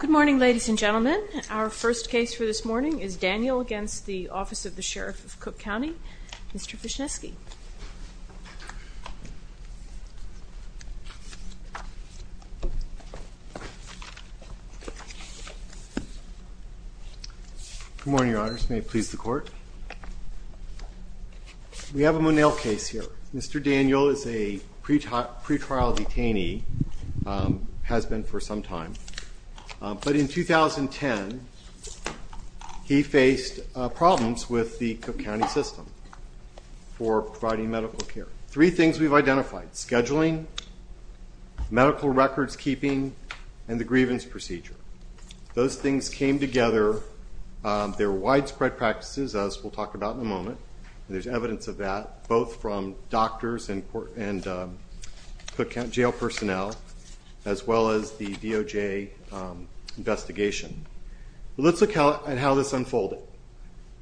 Good morning ladies and gentlemen. Our first case for this morning is Daniel against the Office of the Sheriff of Cook County. Mr. Fishnesky. Good morning your honors. May it please the court. We have a Monell case here. Mr. Fishnesky has been in the office of the Sheriff of Cook County for some time. But in 2010, he faced problems with the Cook County system for providing medical care. Three things we've identified. Scheduling, medical records keeping, and the grievance procedure. Those things came together. They're widespread practices, as we'll talk about in a moment. There's evidence of that, both from doctors and Cook County jail personnel, as well as the sheriff's office. The DOJ investigation. Let's look at how this unfolded.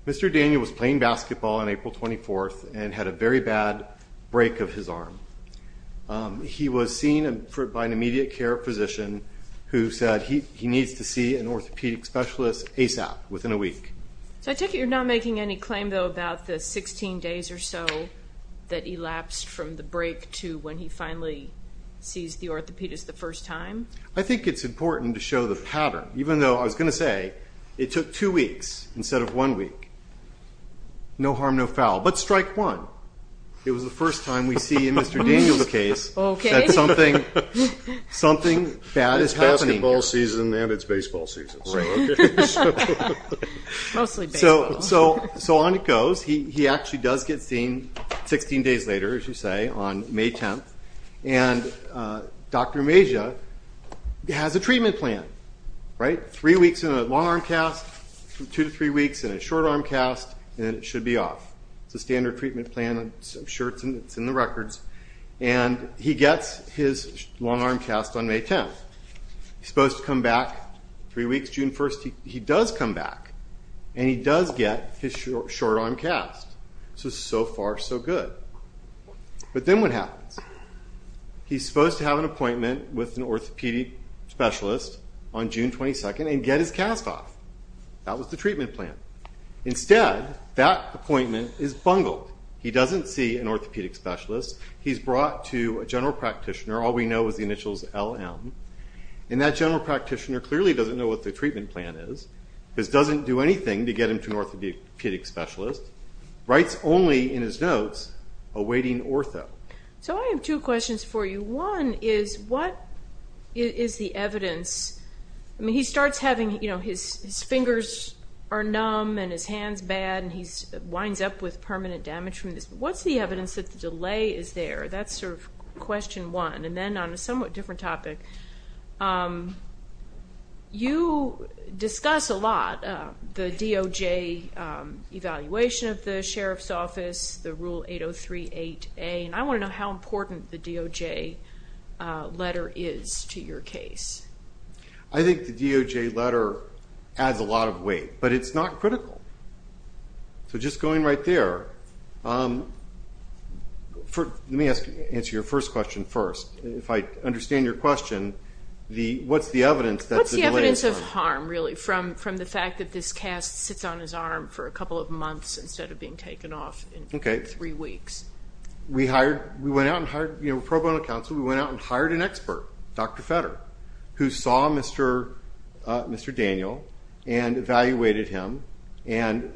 Mr. Daniel was playing basketball on April 24th and had a very bad break of his arm. He was seen by an immediate care physician who said he needs to see an orthopedic specialist ASAP, within a week. So I take it you're not making any claim about the 16 days or so that elapsed from the break to when he finally sees the orthopedist the first time? I think it's important to show the pattern. Even though, I was going to say, it took two weeks instead of one week. No harm, no foul. But strike one. It was the first time we see in Mr. Daniel's case that something bad is happening. It's basketball season and it's baseball season. So on it goes. He actually does get seen 16 days later, as you say, on May 10th. And Dr. Amasia has a treatment plan. Three weeks in a long-arm cast, two to three weeks in a short-arm cast, and it should be off. It's a standard treatment plan. I'm sure it's in the records. And he gets his long-arm cast on May 10th. He's supposed to come back three weeks, June 1st. He does come back and he does get his short-arm cast. So, so far, so good. But then what happens? He's supposed to have an appointment with an orthopedic specialist on June 22nd and get his cast off. That was the treatment plan. Instead, that appointment is bungled. He doesn't see an orthopedic specialist. He's brought to a general practitioner. All we know is the initials LM. And that general practitioner clearly doesn't know what the treatment plan is. This doesn't do anything to get him to an orthopedic specialist. Writes only in his notes, awaiting ortho. So I have two questions for you. One is, what is the evidence? I mean, he starts having, you know, his fingers are numb and his hand's bad and he winds up with permanent damage from this. What's the evidence that the delay is there? That's sort of question one. And then on a somewhat different topic, you discuss a lot the DOJ evaluation of the Sheriff's Office, the Rule 8038A, and I want to know how important the DOJ letter is to your case. I think the DOJ letter adds a lot of weight, but it's not critical. So just going right there, let me answer your first question first. If I understand your question, what's the evidence that the delay is there? What's the evidence of harm, really, from the fact that this cast sits on his arm for a couple of months instead of being taken off in three weeks? We went out and hired, you know, pro bono counsel, we went out and hired an expert, Dr. Fetter, who saw Mr. Daniel and evaluated him and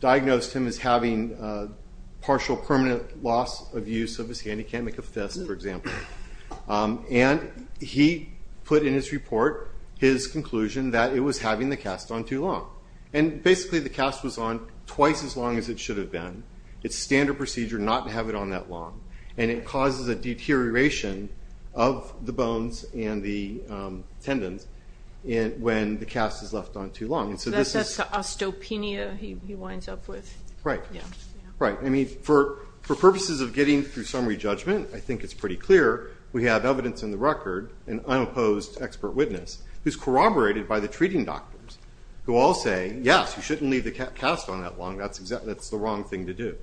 diagnosed him as having partial permanent loss of use of his hand. He can't make a fist, for example. And he put in his report his conclusion that it was having the cast on too long. And basically the cast was on twice as long as it should have been. It's standard procedure not to have it on that long. And it causes a deterioration of the bones and the tendons when the cast is left on too long. So that's the osteopenia he winds up with? Right. I mean, for purposes of getting through summary judgment, I think it's pretty clear we have evidence in the record, an unopposed expert witness, who's corroborated by the treating doctors, who all say, yes, you shouldn't leave the cast on that long. That's the wrong thing to do.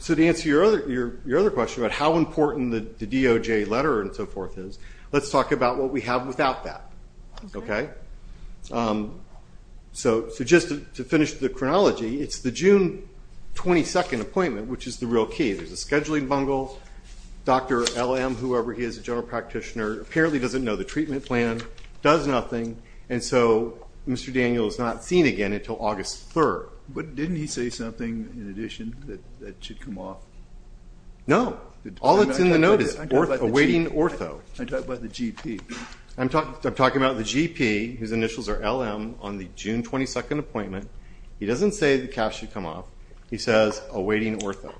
So to answer your other question about how important the DOJ letter and so forth is, let's talk about what we have without that. Okay? So just to finish the chronology, it's the June 22nd appointment, which is the real key. There's a scheduling bungle, Dr. LM, whoever he is, a general practitioner, apparently doesn't know the treatment plan, does nothing, and so Mr. Daniel is not seen again until August 3rd. But didn't he say something in addition that should come off? No. All that's in the note is awaiting ortho. I'm talking about the GP. I'm talking about the GP, whose initials are LM, on the June 22nd appointment. He doesn't say the cast should come off. He says awaiting ortho.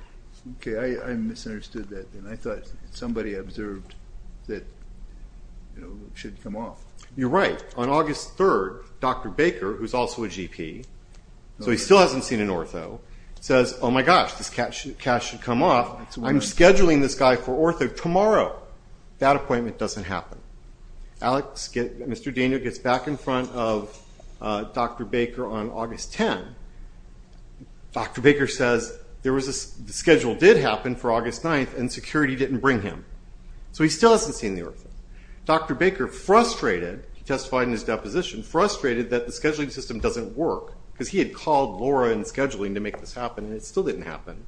Okay. I misunderstood that then. I thought somebody observed that it should come off. You're right. On August 3rd, Dr. Baker, who's also a GP, so he still hasn't seen an ortho, says, oh my gosh, this cast should come off. I'm scheduling this guy for ortho tomorrow. That appointment doesn't happen. Mr. Daniel gets back in front of Dr. Baker on August 10. Dr. Baker says the schedule did happen for August 9th, and security didn't bring him. So he still hasn't seen the ortho. Dr. Baker, frustrated, testified in his deposition, frustrated that the scheduling system doesn't work, because he had called Laura and scheduling to make this happen, and it still didn't happen.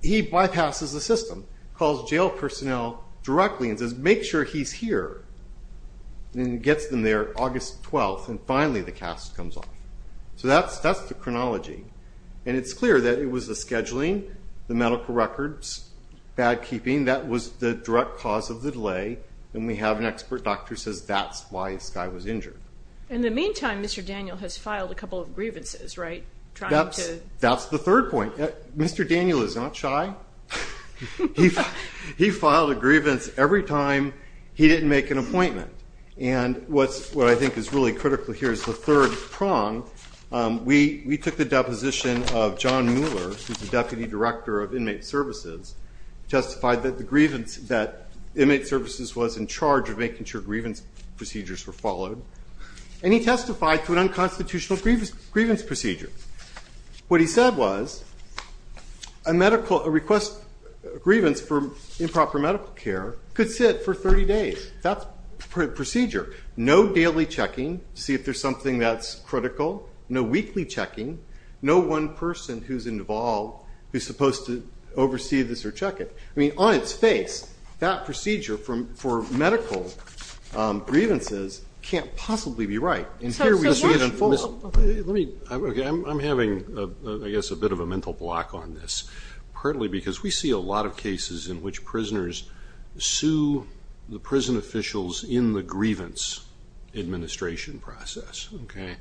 He bypasses the system, calls jail personnel directly and says, make sure he's here, and gets them there August 12th, and finally the cast comes off. So that's the chronology, and it's clear that it was the scheduling, the medical records, bad keeping, that was the direct cause of the delay, and we have an expert doctor who says that's why this guy was injured. In the meantime, Mr. Daniel has filed a couple of grievances, right? That's the third point. Mr. Daniel is not shy. He filed a grievance every time he didn't make an appointment. And what I think is really critical here is the third prong. We took the deposition of John Mueller, who's the deputy director of inmate services, testified that the grievance that inmate services was in charge of making sure grievance procedures were followed. And he testified to an unconstitutional grievance procedure. What he said was a medical request grievance for improper medical care could sit for 30 days. That's procedure. No daily checking to see if there's something that's critical. No weekly checking. No one person who's involved who's supposed to oversee this or check it. I mean, on its face, that procedure for medical grievances can't possibly be right. I'm having, I guess, a bit of a mental block on this. Partly because we see a lot of cases in which prisoners sue the prison officials in the grievance administration process, okay,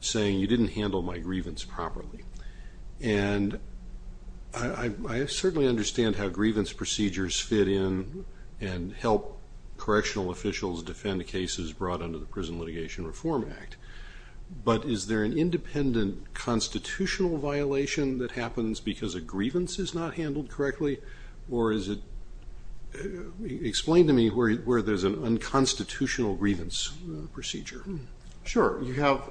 saying you didn't handle my grievance properly. And I certainly understand how grievance procedures fit in and help correctional officials defend cases brought under the Prison Litigation Reform Act. But is there an independent constitutional violation that happens because a grievance is not handled correctly? Or is it – explain to me where there's an unconstitutional grievance procedure. Sure, you have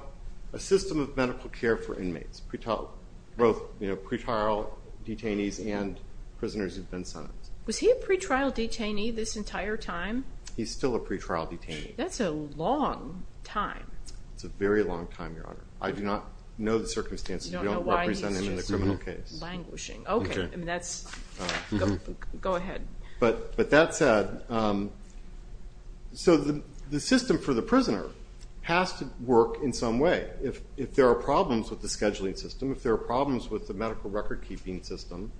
a system of medical care for inmates. Both, you know, pretrial detainees and prisoners who've been sentenced. Was he a pretrial detainee this entire time? He's still a pretrial detainee. That's a long time. It's a very long time, Your Honor. I do not know the circumstances. You don't know why he's just languishing. Okay, that's – go ahead. But that said, so the system for the prisoner has to work in some way. If there are problems with the scheduling system, if there are problems with the medical record-keeping system,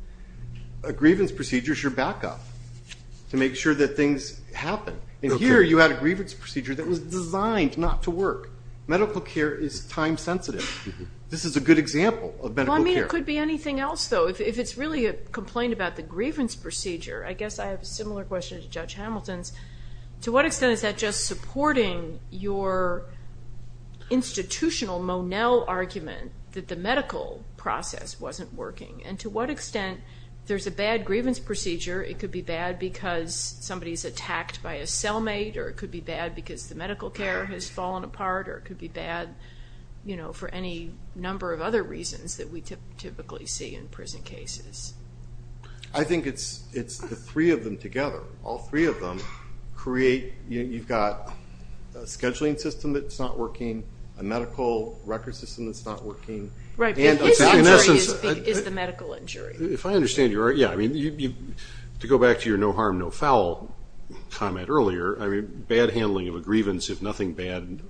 a grievance procedure is your backup to make sure that things happen. And here you had a grievance procedure that was designed not to work. Medical care is time-sensitive. This is a good example of medical care. Well, I mean, it could be anything else, though. If it's really a complaint about the grievance procedure, I guess I have a similar question to Judge Hamilton's. To what extent is that just supporting your institutional Monell argument that the medical process wasn't working? And to what extent there's a bad grievance procedure. It could be bad because somebody's attacked by a cellmate, or it could be bad because the medical care has fallen apart, or it could be bad for any number of other reasons that we typically see in prison cases. I think it's the three of them together. All three of them create – you've got a scheduling system that's not working, a medical record system that's not working. Right, but his injury is the medical injury. If I understand you right, yeah. To go back to your no harm, no foul comment earlier, bad handling of a grievance if nothing bad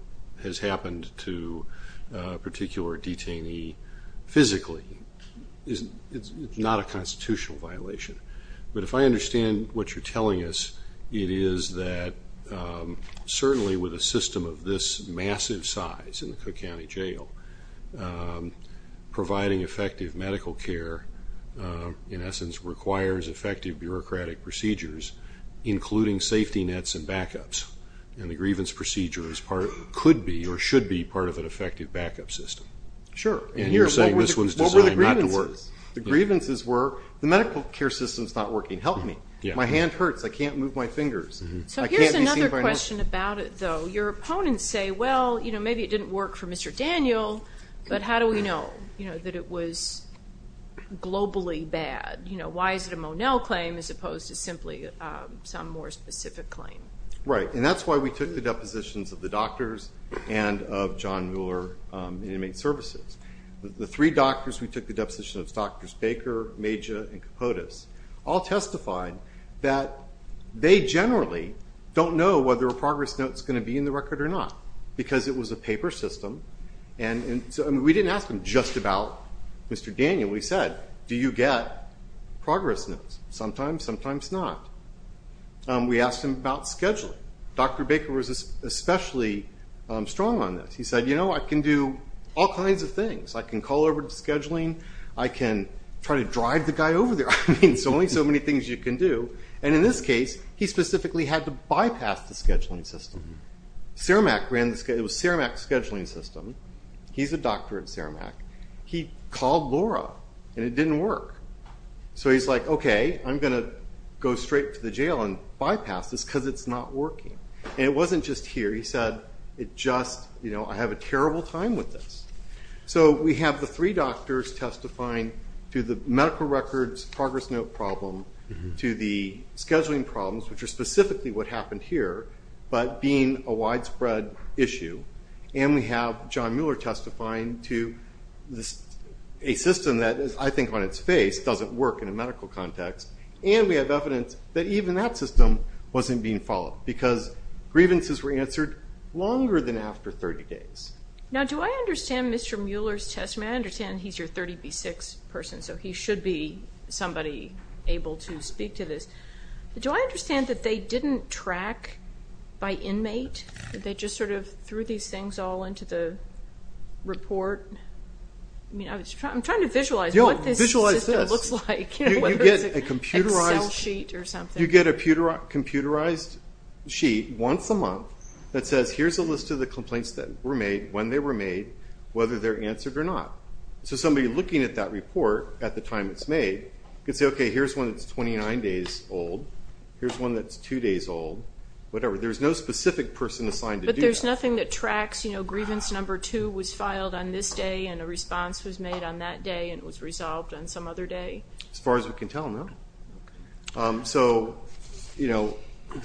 has happened to a particular detainee physically is not a constitutional violation. But if I understand what you're telling us, it is that certainly with a system of this massive size in the Cook County Jail, providing effective medical care in essence requires effective bureaucratic procedures, including safety nets and backups. And the grievance procedure could be or should be part of an effective backup system. Sure. And you're saying this one's designed not to work. What were the grievances? The grievances were the medical care system's not working. Help me. My hand hurts. I can't move my fingers. So here's another question about it, though. Your opponents say, well, you know, maybe it didn't work for Mr. Daniel, but how do we know, you know, that it was globally bad? You know, why is it a Monell claim as opposed to simply some more specific claim? Right, and that's why we took the depositions of the doctors and of John Mueller Inmate Services. The three doctors we took the depositions of, Drs. Baker, Major, and Capotes, all testified that they generally don't know whether a progress note's going to be in the record or not because it was a paper system. And so we didn't ask them just about Mr. Daniel. We said, do you get progress notes? Sometimes, sometimes not. We asked them about scheduling. Dr. Baker was especially strong on this. He said, you know, I can do all kinds of things. I can call over to scheduling. I can try to drive the guy over there. I mean, there's only so many things you can do. And in this case, he specifically had to bypass the scheduling system. Cermak ran the, it was Cermak's scheduling system. He's a doctor at Cermak. He called Laura, and it didn't work. So he's like, okay, I'm going to go straight to the jail and bypass this because it's not working. And it wasn't just here. He said, it just, you know, I have a terrible time with this. So we have the three doctors testifying to the medical records progress note problem, to the scheduling problems, which are specifically what happened here, but being a widespread issue. And we have John Mueller testifying to a system that I think on its face doesn't work in a medical context. And we have evidence that even that system wasn't being followed because grievances were answered longer than after 30 days. Now, do I understand Mr. Mueller's testimony? I understand he's your 30B6 person, so he should be somebody able to speak to this. Do I understand that they didn't track by inmate? Did they just sort of threw these things all into the report? I mean, I'm trying to visualize what this system looks like. You get a computerized sheet once a month that says, here's a list of the complaints that were made, when they were made, whether they're answered or not. So somebody looking at that report at the time it's made can say, okay, here's one that's 29 days old. Here's one that's two days old, whatever. There's no specific person assigned to do that. But there's nothing that tracks, you know, grievance number two was filed on this day and a response was made on that day and it was resolved on some other day? As far as we can tell, no. So, you know,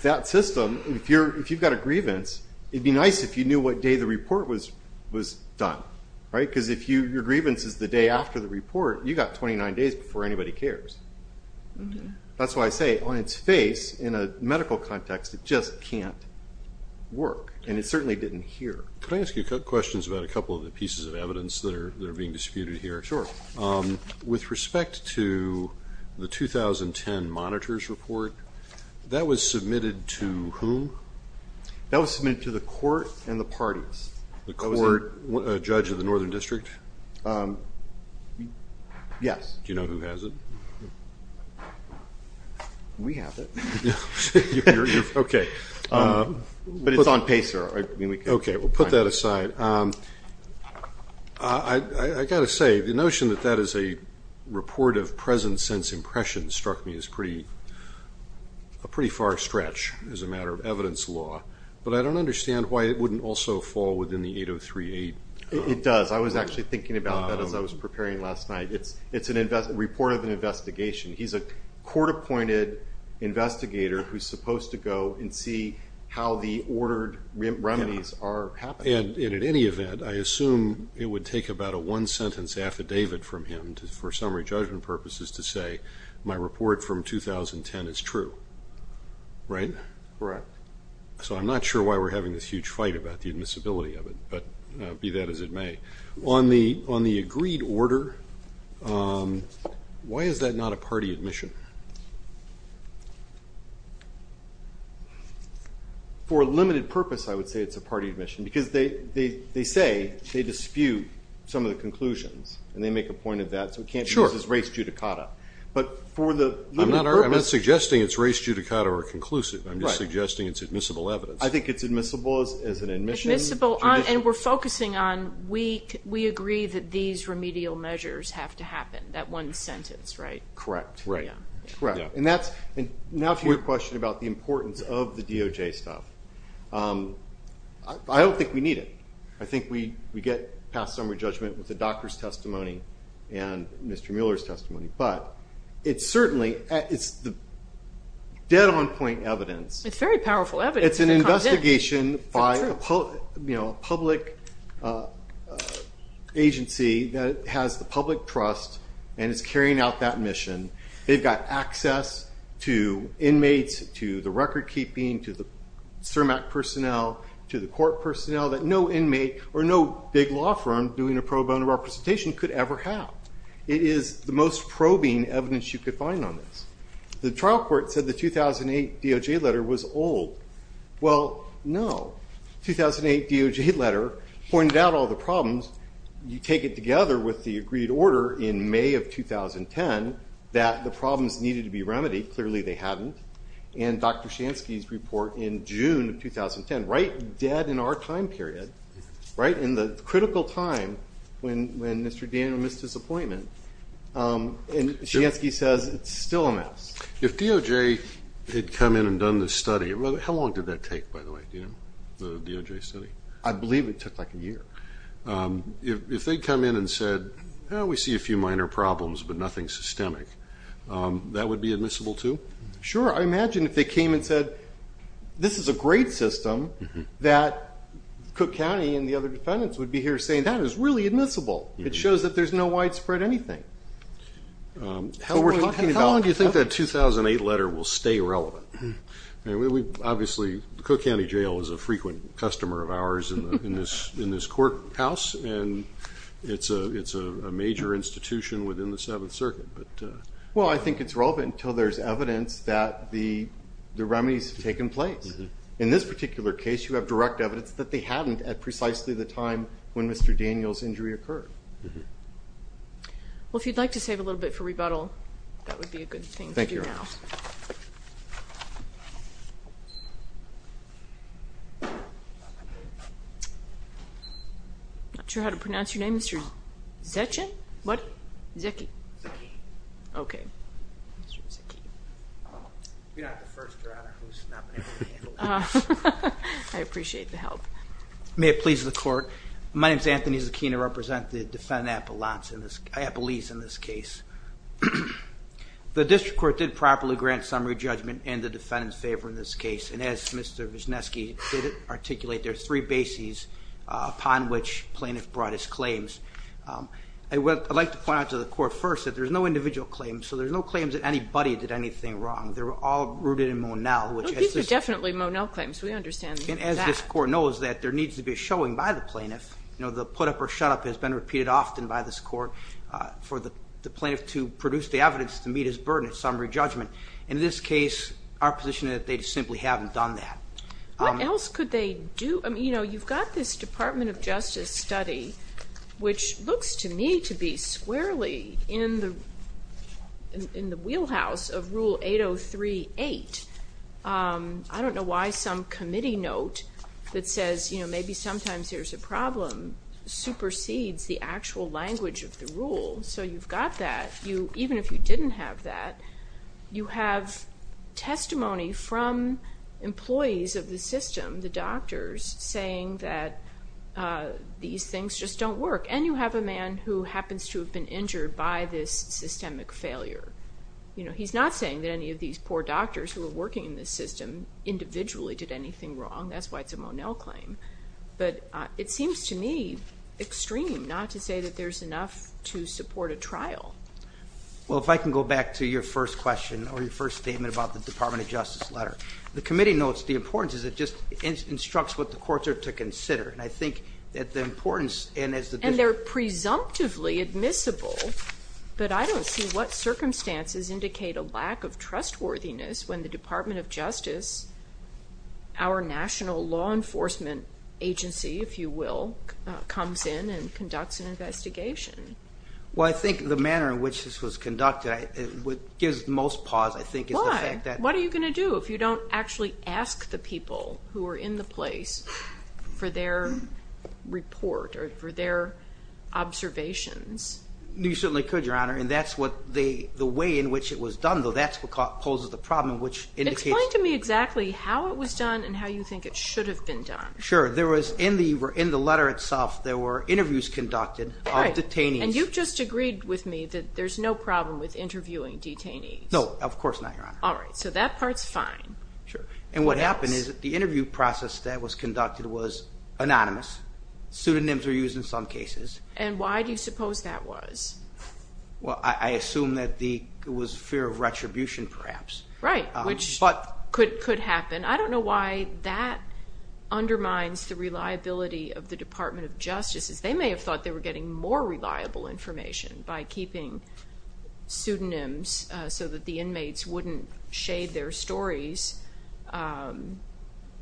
that system, if you've got a grievance, it would be nice if you knew what day the report was done, right? Because if your grievance is the day after the report, you've got 29 days before anybody cares. That's why I say, on its face, in a medical context, it just can't work. And it certainly didn't here. Can I ask you a couple of questions about a couple of the pieces of evidence that are being disputed here? Sure. With respect to the 2010 monitors report, that was submitted to whom? That was submitted to the court and the parties. The court, a judge of the Northern District? Yes. Do you know who has it? We have it. Okay. But it's on PACER. Okay, we'll put that aside. I've got to say, the notion that that is a report of presence since impression struck me as a pretty far stretch as a matter of evidence law. But I don't understand why it wouldn't also fall within the 8038. It does. I was actually thinking about that as I was preparing last night. It's a report of an investigation. He's a court-appointed investigator who's supposed to go and see how the ordered remedies are happening. And in any event, I assume it would take about a one-sentence affidavit from him for summary judgment purposes to say, my report from 2010 is true, right? Right. So I'm not sure why we're having this huge fight about the admissibility of it, but be that as it may. On the agreed order, why is that not a party admission? For a limited purpose, I would say it's a party admission, because they say they dispute some of the conclusions, and they make a point of that, so we can't use it as race judicata. But for the limited purpose. I'm not suggesting it's race judicata or conclusive. I'm just suggesting it's admissible evidence. I think it's admissible as an admission. Admissible, and we're focusing on we agree that these remedial measures have to happen, that one sentence, right? Correct. And now for your question about the importance of the DOJ stuff. I don't think we need it. I think we get past summary judgment with the doctor's testimony and Mr. Mueller's testimony. But it's certainly dead-on-point evidence. It's very powerful evidence. It's an investigation by a public agency that has the public trust and is carrying out that mission. They've got access to inmates, to the record-keeping, to the CIRMAC personnel, to the court personnel that no inmate or no big law firm doing a probe on a representation could ever have. It is the most probing evidence you could find on this. The trial court said the 2008 DOJ letter was old. Well, no. 2008 DOJ letter pointed out all the problems. You take it together with the agreed order in May of 2010 that the problems needed to be remedied. Clearly, they hadn't. And Dr. Shansky's report in June of 2010, right dead in our time period, right in the critical time when Mr. Daniel missed his appointment. And Shansky says it's still a mess. If DOJ had come in and done this study, how long did that take, by the way, the DOJ study? I believe it took like a year. If they'd come in and said, oh, we see a few minor problems but nothing systemic, that would be admissible too? Sure. I imagine if they came and said, this is a great system, that Cook County and the other defendants would be here saying, that is really admissible. It shows that there's no widespread anything. How long do you think that 2008 letter will stay relevant? Obviously, the Cook County Jail is a frequent customer of ours in this courthouse, and it's a major institution within the Seventh Circuit. Well, I think it's relevant until there's evidence that the remedies have taken place. In this particular case, you have direct evidence that they haven't at precisely the time when Mr. Daniel's injury occurred. Well, if you'd like to save a little bit for rebuttal, that would be a good thing to do now. Thank you, Your Honor. Not sure how to pronounce your name, Mr. Zechin? What? Zeki. Zeki. Okay. You're not the first, Your Honor, who's not been able to handle this. I appreciate the help. May it please the Court. My name is Anthony Zekina. I represent the defendant, Appalachian, Appalese, in this case. The district court did properly grant summary judgment in the defendant's favor in this case, and as Mr. Wisniewski did articulate, there are three bases upon which plaintiff brought his claims. I'd like to point out to the Court first that there's no individual claims, so there's no claims that anybody did anything wrong. They were all rooted in Monell. These are definitely Monell claims. We understand that. And as this Court knows that, there needs to be a showing by the plaintiff. You know, the put-up or shut-up has been repeated often by this Court for the plaintiff to produce the evidence to meet his burden of summary judgment. In this case, our position is that they simply haven't done that. What else could they do? You know, you've got this Department of Justice study, which looks to me to be squarely in the wheelhouse of Rule 8038. I don't know why some committee note that says, you know, maybe sometimes there's a problem, supersedes the actual language of the rule. So you've got that. Even if you didn't have that, you have testimony from employees of the system, the doctors, saying that these things just don't work. And you have a man who happens to have been injured by this systemic failure. You know, he's not saying that any of these poor doctors who were working in this system individually did anything wrong. That's why it's a Monell claim. But it seems to me extreme not to say that there's enough to support a trial. Well, if I can go back to your first question or your first statement about the Department of Justice letter. The committee notes the importance is it just instructs what the courts are to consider. And I think that the importance, and as the... And they're presumptively admissible. But I don't see what circumstances indicate a lack of trustworthiness when the Department of Justice, our national law enforcement agency, if you will, comes in and conducts an investigation. Well, I think the manner in which this was conducted, what gives most pause, I think, is the fact that... Why? What are you going to do if you don't actually ask the people who are in the place for their report or for their observations? You certainly could, Your Honor, and that's what they... The way in which it was done, though, that's what poses the problem, which indicates... Explain to me exactly how it was done and how you think it should have been done. Sure. There was, in the letter itself, there were interviews conducted of detainees. And you've just agreed with me that there's no problem with interviewing detainees. No, of course not, Your Honor. All right. So that part's fine. Sure. And what happened is that the interview process that was conducted was anonymous. Pseudonyms were used in some cases. And why do you suppose that was? Well, I assume that it was fear of retribution, perhaps. Right, which could happen. I don't know why that undermines the reliability of the Department of Justice, as they may have thought they were getting more reliable information by keeping pseudonyms so that the inmates wouldn't shade their stories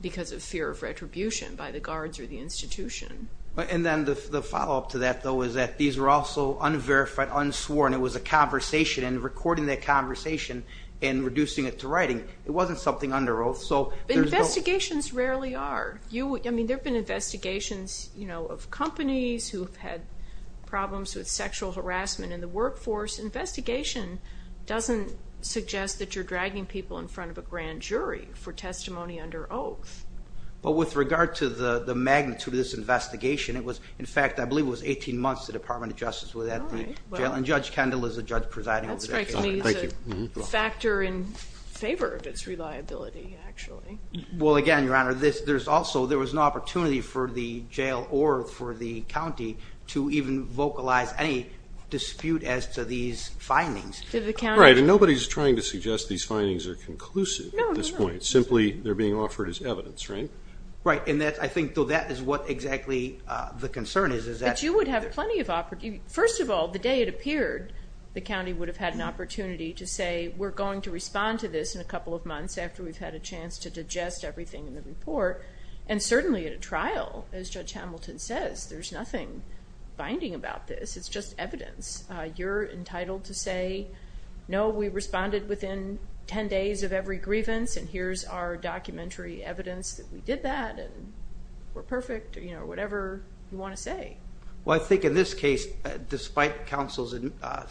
because of fear of retribution by the guards or the institution. And then the follow-up to that, though, is that these were also unverified, unsworn. It was a conversation, and recording that conversation and reducing it to writing, it wasn't something under oath. Investigations rarely are. I mean, there have been investigations of companies who have had problems with sexual harassment in the workforce. Investigation doesn't suggest that you're dragging people in front of a grand jury for testimony under oath. But with regard to the magnitude of this investigation, it was, in fact, I believe it was 18 months the Department of Justice was at the jail, and Judge Kendall is the judge presiding over the case. That strikes me as a factor in favor of its reliability, actually. Well, again, Your Honor, there was an opportunity for the jail or for the county to even vocalize any dispute as to these findings. Right, and nobody is trying to suggest these findings are conclusive at this point. Simply, they're being offered as evidence, right? Right, and I think, though, that is what exactly the concern is. But you would have plenty of opportunity. First of all, the day it appeared, the county would have had an opportunity to say, we're going to respond to this in a couple of months after we've had a chance to digest everything in the report. And certainly at a trial, as Judge Hamilton says, there's nothing binding about this. It's just evidence. You're entitled to say, no, we responded within 10 days of every grievance, and here's our documentary evidence that we did that, and we're perfect, or, you know, whatever you want to say. Well, I think in this case, despite counsel's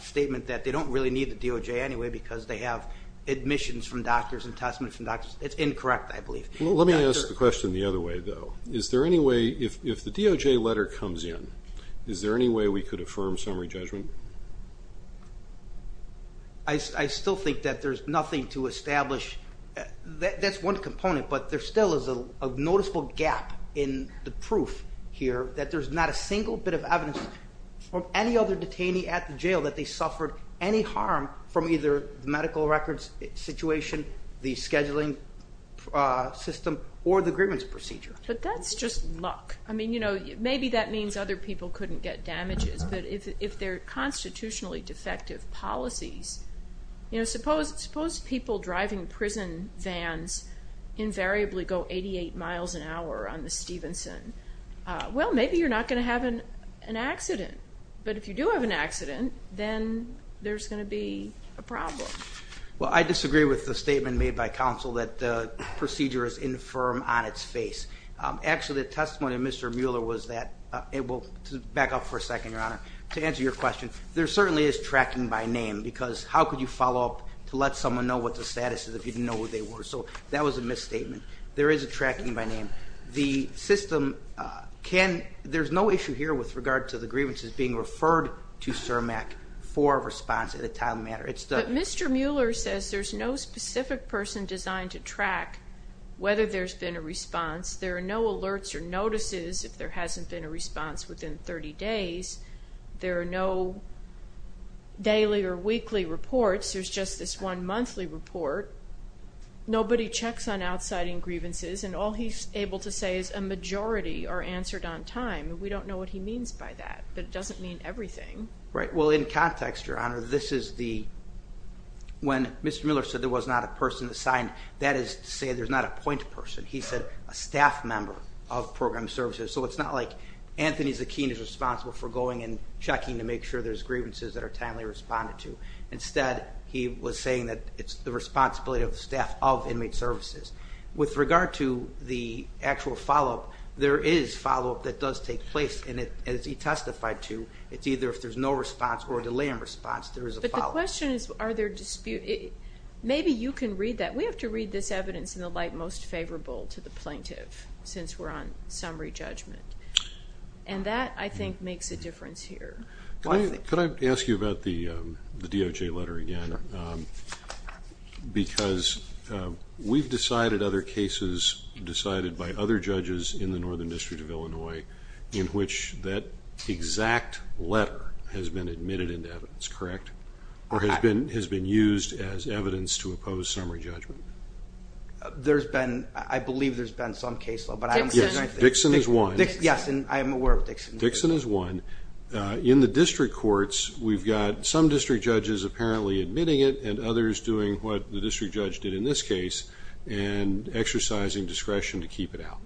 statement that they don't really need the DOJ anyway because they have admissions from doctors and testaments from doctors, it's incorrect, I believe. Let me ask the question the other way, though. Is there any way, if the DOJ letter comes in, is there any way we could affirm summary judgment? I still think that there's nothing to establish. That's one component, but there still is a noticeable gap in the proof here that there's not a single bit of evidence from any other detainee at the jail that they suffered any harm from either the medical records situation, the scheduling system, or the grievance procedure. But that's just luck. I mean, you know, maybe that means other people couldn't get damages, but if they're constitutionally defective policies, you know, suppose people driving prison vans invariably go 88 miles an hour on the Stevenson. Well, maybe you're not going to have an accident. But if you do have an accident, then there's going to be a problem. Well, I disagree with the statement made by counsel that the procedure is infirm on its face. Actually, the testimony of Mr. Mueller was that it will back up for a second, Your Honor. To answer your question, there certainly is tracking by name because how could you follow up to let someone know what the status is if you didn't know who they were? So that was a misstatement. There is a tracking by name. The system can ñ there's no issue here with regard to the grievances being referred to CIRMAC for a response at a time matter. But Mr. Mueller says there's no specific person designed to track whether there's been a response. There are no alerts or notices if there hasn't been a response within 30 days. There are no daily or weekly reports. There's just this one monthly report. Nobody checks on outsiding grievances, and all he's able to say is a majority are answered on time. We don't know what he means by that, but it doesn't mean everything. Right. Well, in context, Your Honor, this is the ñ when Mr. Mueller said there was not a person assigned, that is to say there's not a point person. He said a staff member of program services. So it's not like Anthony Zakin is responsible for going and checking to make sure there's grievances that are timely responded to. Instead, he was saying that it's the responsibility of the staff of inmate services. With regard to the actual follow-up, there is follow-up that does take place, and as he testified to, it's either if there's no response or a delay in response, there is a follow-up. But the question is are there ñ maybe you can read that. We have to read this evidence in the light most favorable to the plaintiff since we're on summary judgment. And that, I think, makes a difference here. Could I ask you about the DOJ letter again? Because we've decided other cases decided by other judges in the Northern District of Illinois in which that exact letter has been admitted into evidence, correct, or has been used as evidence to oppose summary judgment. There's been ñ I believe there's been some case law, but I don't ñ Dixon. Yes, and I am aware of Dixon. Dixon is one. In the district courts, we've got some district judges apparently admitting it and others doing what the district judge did in this case and exercising discretion to keep it out.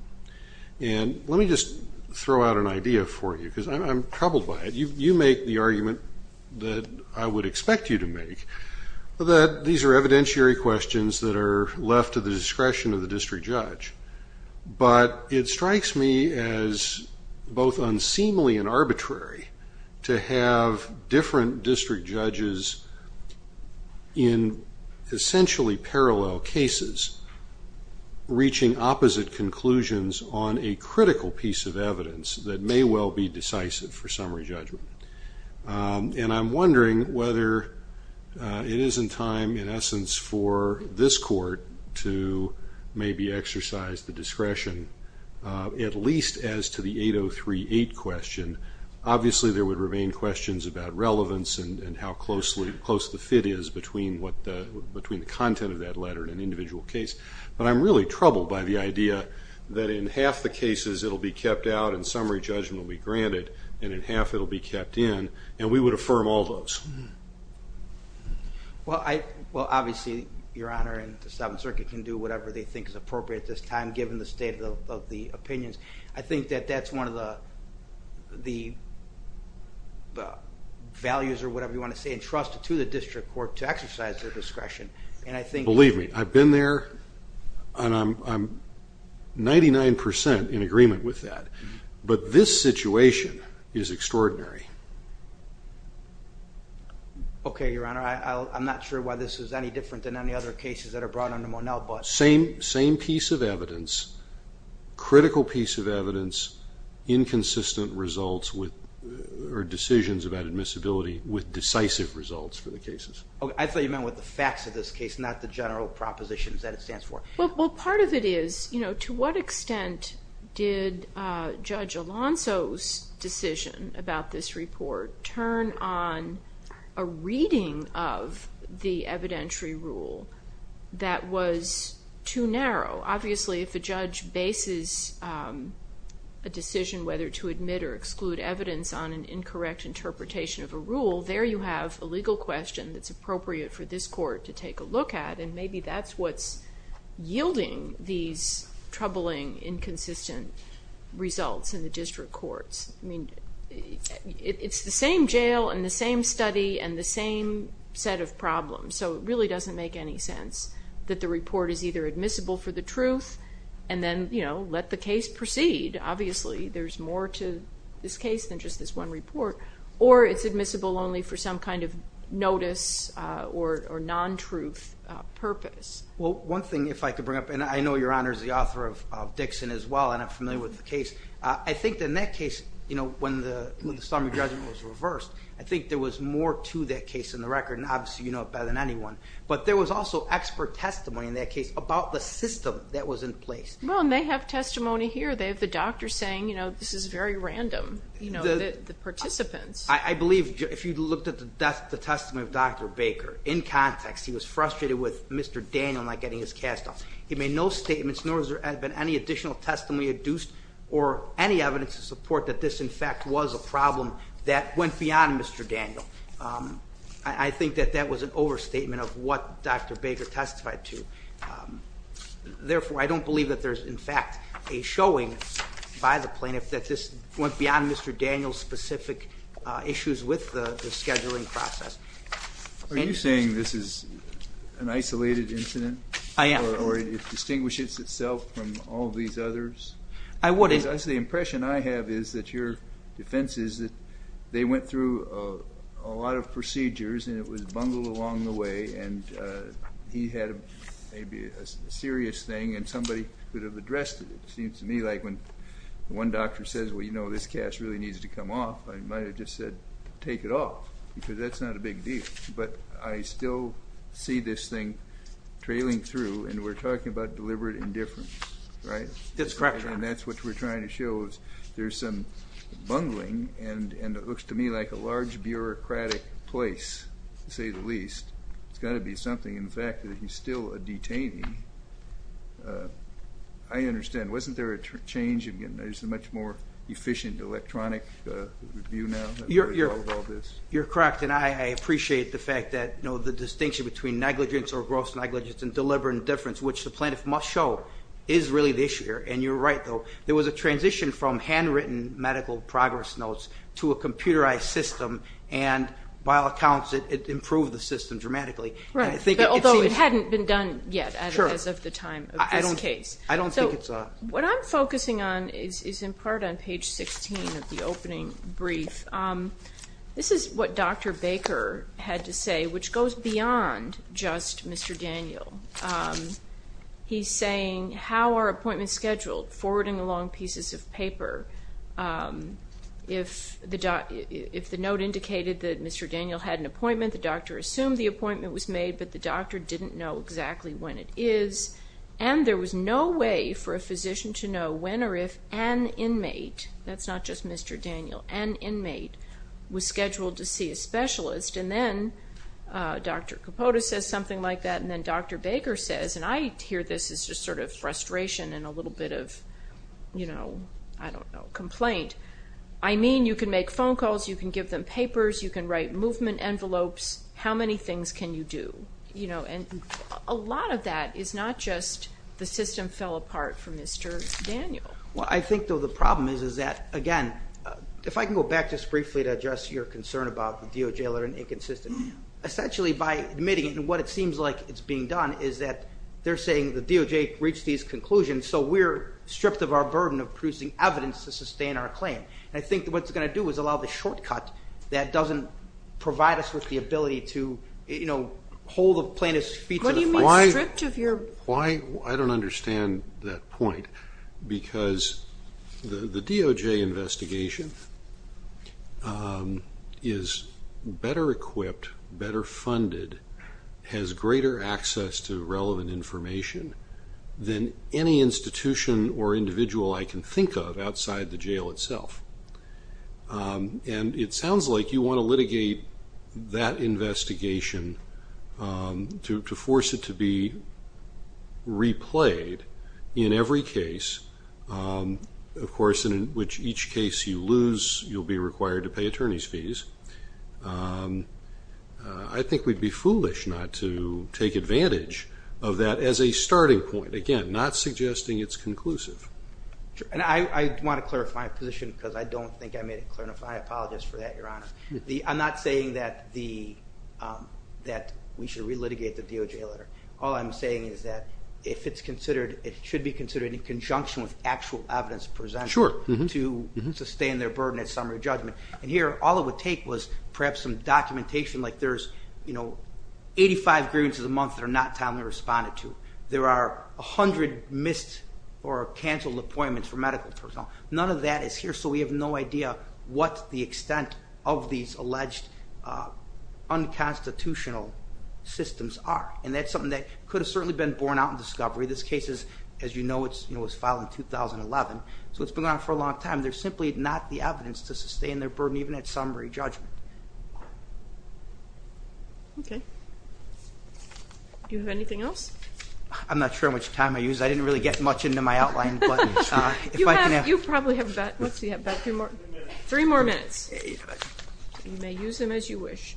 And let me just throw out an idea for you because I'm troubled by it. You make the argument that I would expect you to make, that these are evidentiary questions that are left to the discretion of the district judge. But it strikes me as both unseemly and arbitrary to have different district judges in essentially parallel cases reaching opposite conclusions on a critical piece of evidence that may well be decisive for summary judgment. And I'm wondering whether it is in time, in essence, for this court to maybe exercise the discretion, at least as to the 8038 question. Obviously, there would remain questions about relevance and how close the fit is between the content of that letter in an individual case. But I'm really troubled by the idea that in half the cases it will be kept out and summary judgment will be granted and in half it will be kept in. And we would affirm all those. Well, obviously, Your Honor, and the Seventh Circuit can do whatever they think is appropriate at this time given the state of the opinions. I think that that's one of the values or whatever you want to say, entrusted to the district court to exercise their discretion. Believe me, I've been there and I'm 99% in agreement with that. But this situation is extraordinary. Okay, Your Honor. I'm not sure why this is any different than any other cases that are brought under Monell. Same piece of evidence, critical piece of evidence, inconsistent results or decisions about admissibility with decisive results for the cases. I thought you meant with the facts of this case, not the general propositions that it stands for. Well, part of it is, to what extent did Judge Alonso's decision about this report turn on a reading of the evidentiary rule that was too narrow? Obviously, if a judge bases a decision whether to admit or exclude evidence on an incorrect interpretation of a rule, there you have a legal question that's appropriate for this court to take a look at and maybe that's what's yielding these troubling, inconsistent results in the district courts. I mean, it's the same jail and the same study and the same set of problems, so it really doesn't make any sense that the report is either admissible for the truth and then let the case proceed. Obviously, there's more to this case than just this one report. Or it's admissible only for some kind of notice or non-truth purpose. Well, one thing, if I could bring up, and I know Your Honor is the author of Dixon as well and I'm familiar with the case. I think in that case, when the summary judgment was reversed, I think there was more to that case in the record, and obviously you know it better than anyone. But there was also expert testimony in that case about the system that was in place. Well, and they have testimony here. They have the doctor saying, you know, this is very random, you know, the participants. I believe if you looked at the testimony of Dr. Baker in context, he was frustrated with Mr. Daniel not getting his cast off. He made no statements, nor has there been any additional testimony induced or any evidence to support that this, in fact, was a problem that went beyond Mr. Daniel. I think that that was an overstatement of what Dr. Baker testified to. Therefore, I don't believe that there's, in fact, a showing by the plaintiff that this went beyond Mr. Daniel's specific issues with the scheduling process. Are you saying this is an isolated incident? I am. Or it distinguishes itself from all of these others? I wouldn't. Because the impression I have is that your defense is that they went through a lot of procedures and it was bungled along the way and he had maybe a serious thing and somebody could have addressed it. It seems to me like when one doctor says, well, you know, this cast really needs to come off, I might have just said take it off because that's not a big deal. But I still see this thing trailing through, and we're talking about deliberate indifference, right? That's correct. And that's what we're trying to show is there's some bungling and it looks to me like a large bureaucratic place, to say the least. It's got to be something. In fact, he's still a detainee. I understand. Wasn't there a change in getting a much more efficient electronic review now? You're correct, and I appreciate the fact that the distinction between negligence or gross negligence and deliberate indifference, which the plaintiff must show, is really the issue here, and you're right, though. There was a transition from handwritten medical progress notes to a computerized system, and by all accounts it improved the system dramatically. Although it hadn't been done yet as of the time of this case. So what I'm focusing on is in part on page 16 of the opening brief. This is what Dr. Baker had to say, which goes beyond just Mr. Daniel. He's saying, how are appointments scheduled? Forwarding along pieces of paper. If the note indicated that Mr. Daniel had an appointment, the doctor assumed the appointment was made, but the doctor didn't know exactly when it is, and there was no way for a physician to know when or if an inmate, that's not just Mr. Daniel, an inmate, was scheduled to see a specialist, and then Dr. Capota says something like that, and then Dr. Baker says, and I hear this as just sort of frustration and a little bit of, you know, I don't know, complaint. I mean you can make phone calls, you can give them papers, you can write movement envelopes. How many things can you do? And a lot of that is not just the system fell apart from Mr. Daniel. Well, I think, though, the problem is that, again, if I can go back just briefly to address your concern about the DOJ learning inconsistency. Essentially by admitting it, and what it seems like it's being done is that they're saying the DOJ reached these conclusions, so we're stripped of our burden of producing evidence to sustain our claim. And I think what it's going to do is allow the shortcut that doesn't provide us with the ability to, you know, hold the plaintiff's feet to the floor. What do you mean stripped of your? Well, I don't understand that point because the DOJ investigation is better equipped, better funded, has greater access to relevant information than any institution or individual I can think of outside the jail itself. And it sounds like you want to litigate that investigation to force it to be replayed in every case. Of course, in which each case you lose, you'll be required to pay attorney's fees. I think we'd be foolish not to take advantage of that as a starting point. Again, not suggesting it's conclusive. And I want to clarify my position because I don't think I made it clear enough. I apologize for that, Your Honor. I'm not saying that we should re-litigate the DOJ letter. All I'm saying is that if it's considered, it should be considered in conjunction with actual evidence presented to sustain their burden at summary judgment. And here, all it would take was perhaps some documentation like there's, you know, 85 grievances a month that are not timely responded to. There are 100 missed or canceled appointments for medical personnel. None of that is here, so we have no idea what the extent of these alleged unconstitutional systems are. And that's something that could have certainly been borne out in discovery. This case is, as you know, it was filed in 2011, so it's been around for a long time. There's simply not the evidence to sustain their burden even at summary judgment. Okay. Do you have anything else? I'm not sure how much time I used. I didn't really get much into my outline. You probably have about three more minutes. You may use them as you wish.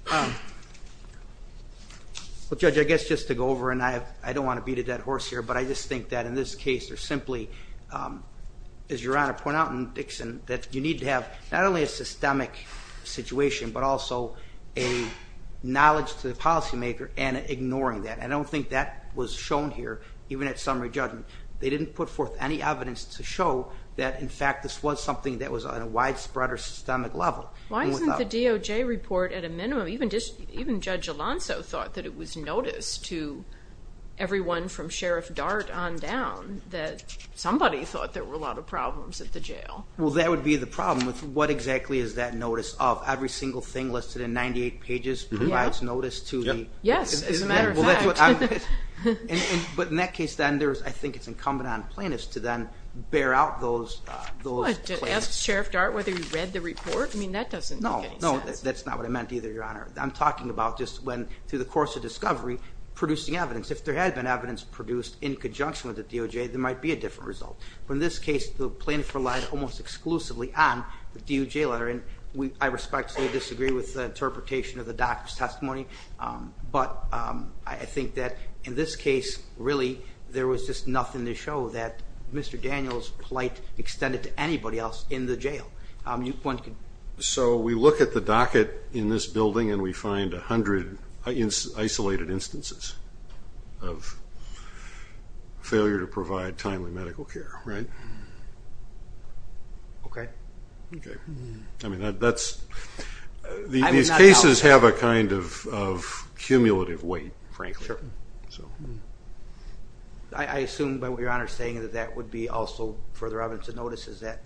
Well, Judge, I guess just to go over, and I don't want to beat a dead horse here, but I just think that in this case there's simply, as Your Honor pointed out in Dixon, that you need to have not only a systemic situation, but also a knowledge to the policymaker and ignoring that. I don't think that was shown here even at summary judgment. They didn't put forth any evidence to show that, in fact, this was something that was on a widespread or systemic level. Why isn't the DOJ report at a minimum? Even Judge Alonso thought that it was noticed to everyone from Sheriff Dart on down that somebody thought there were a lot of problems at the jail. Well, that would be the problem. What exactly is that notice of? Every single thing listed in 98 pages provides notice to the... Yes, as a matter of fact. But in that case, then, I think it's incumbent on plaintiffs to then bear out those claims. Ask Sheriff Dart whether he read the report? I mean, that doesn't make any sense. No, that's not what I meant either, Your Honor. I'm talking about just when, through the course of discovery, producing evidence. If there had been evidence produced in conjunction with the DOJ, there might be a different result. But in this case, the plaintiff relied almost exclusively on the DOJ letter. And I respectfully disagree with the interpretation of the doctor's testimony. But I think that in this case, really, there was just nothing to show that Mr. Daniels' plight extended to anybody else in the jail. So we look at the docket in this building and we find 100 isolated instances of failure to provide timely medical care. Right? Okay. Okay. I mean, that's... These cases have a kind of cumulative weight, frankly. Sure. So... I assume, by what Your Honor is saying, that that would be also further evidence of notices that...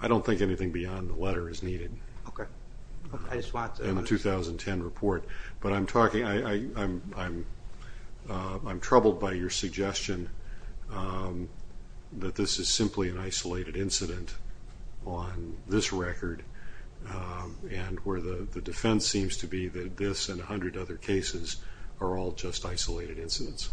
I don't think anything beyond the letter is needed. Okay. I just want to... In the 2010 report. But I'm talking... I'm troubled by your suggestion that this is simply an isolated incident on this record, and where the defense seems to be that this and 100 other cases are all just isolated incidents,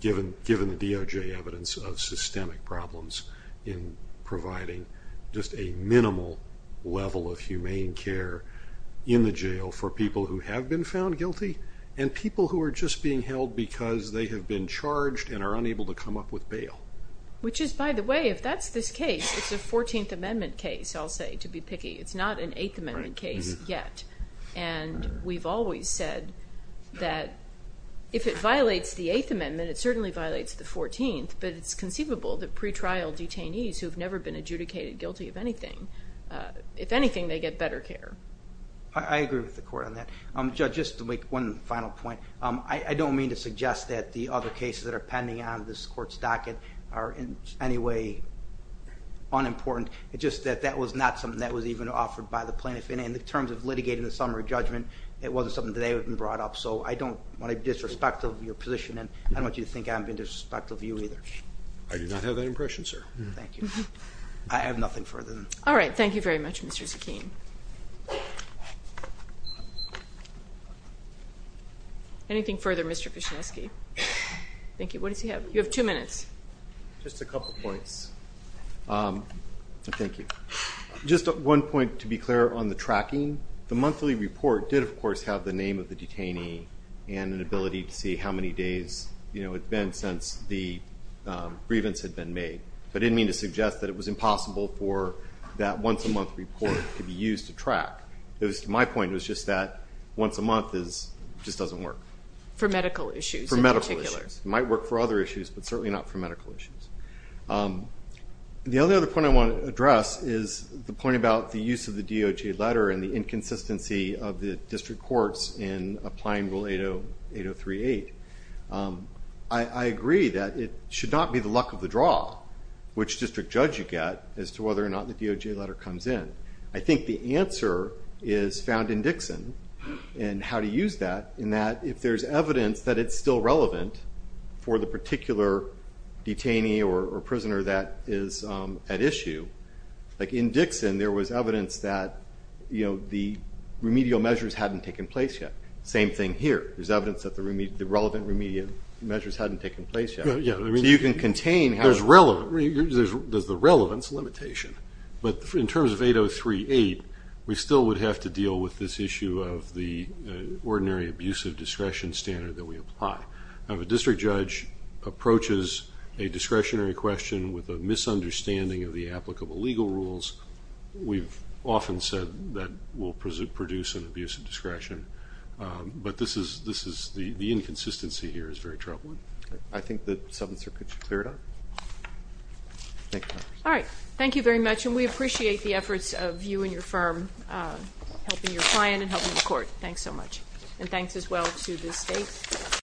given the DOJ evidence of systemic problems in providing just a minimal level of humane care in the jail for people who have been found guilty and people who are just being held because they have been charged and are unable to come up with bail. Which is, by the way, if that's this case, it's a 14th Amendment case, I'll say, to be picky. It's not an 8th Amendment case yet. And we've always said that if it violates the 8th Amendment, it certainly violates the 14th, but it's conceivable that pretrial detainees who have never been adjudicated guilty of anything, if anything, they get better care. I agree with the court on that. Judge, just to make one final point. I don't mean to suggest that the other cases that are pending on this court's docket are in any way unimportant. It's just that that was not something that was even offered by the plaintiff. In terms of litigating the summary judgment, it wasn't something that they had brought up. So I don't want to be disrespectful of your position, and I don't want you to think I'm being disrespectful of you either. I do not have that impression, sir. Thank you. I have nothing further. All right. Thank you very much, Mr. Zakin. Anything further, Mr. Pyshineski? Thank you. What does he have? You have two minutes. Just a couple points. Thank you. Just one point, to be clear, on the tracking. The monthly report did, of course, have the name of the detainee and an ability to see how many days it had been since the grievance had been made. I didn't mean to suggest that it was impossible for that once-a-month report to be used to track. My point was just that once-a-month just doesn't work. For medical issues in particular. For medical issues. It might work for other issues, but certainly not for medical issues. The other point I want to address is the point about the use of the DOJ letter and the inconsistency of the district courts in applying Rule 8038. I agree that it should not be the luck of the draw which district judge you get as to whether or not the DOJ letter comes in. I think the answer is found in Dixon and how to use that, in that if there's evidence that it's still relevant for the particular detainee or prisoner that is at issue, like in Dixon there was evidence that the remedial measures hadn't taken place yet. Same thing here. There's evidence that the relevant remedial measures hadn't taken place yet. So you can contain. There's the relevance limitation. But in terms of 8038, we still would have to deal with this issue of the ordinary abusive discretion standard that we apply. If a district judge approaches a discretionary question with a misunderstanding of the applicable legal rules, we've often said that will produce an abuse of discretion. But this is the inconsistency here is very troubling. I think that, Senator, could you clear it up? Thank you. All right. Thank you very much, and we appreciate the efforts of you and your firm, helping your client and helping the court. Thanks so much. And thanks as well to the state.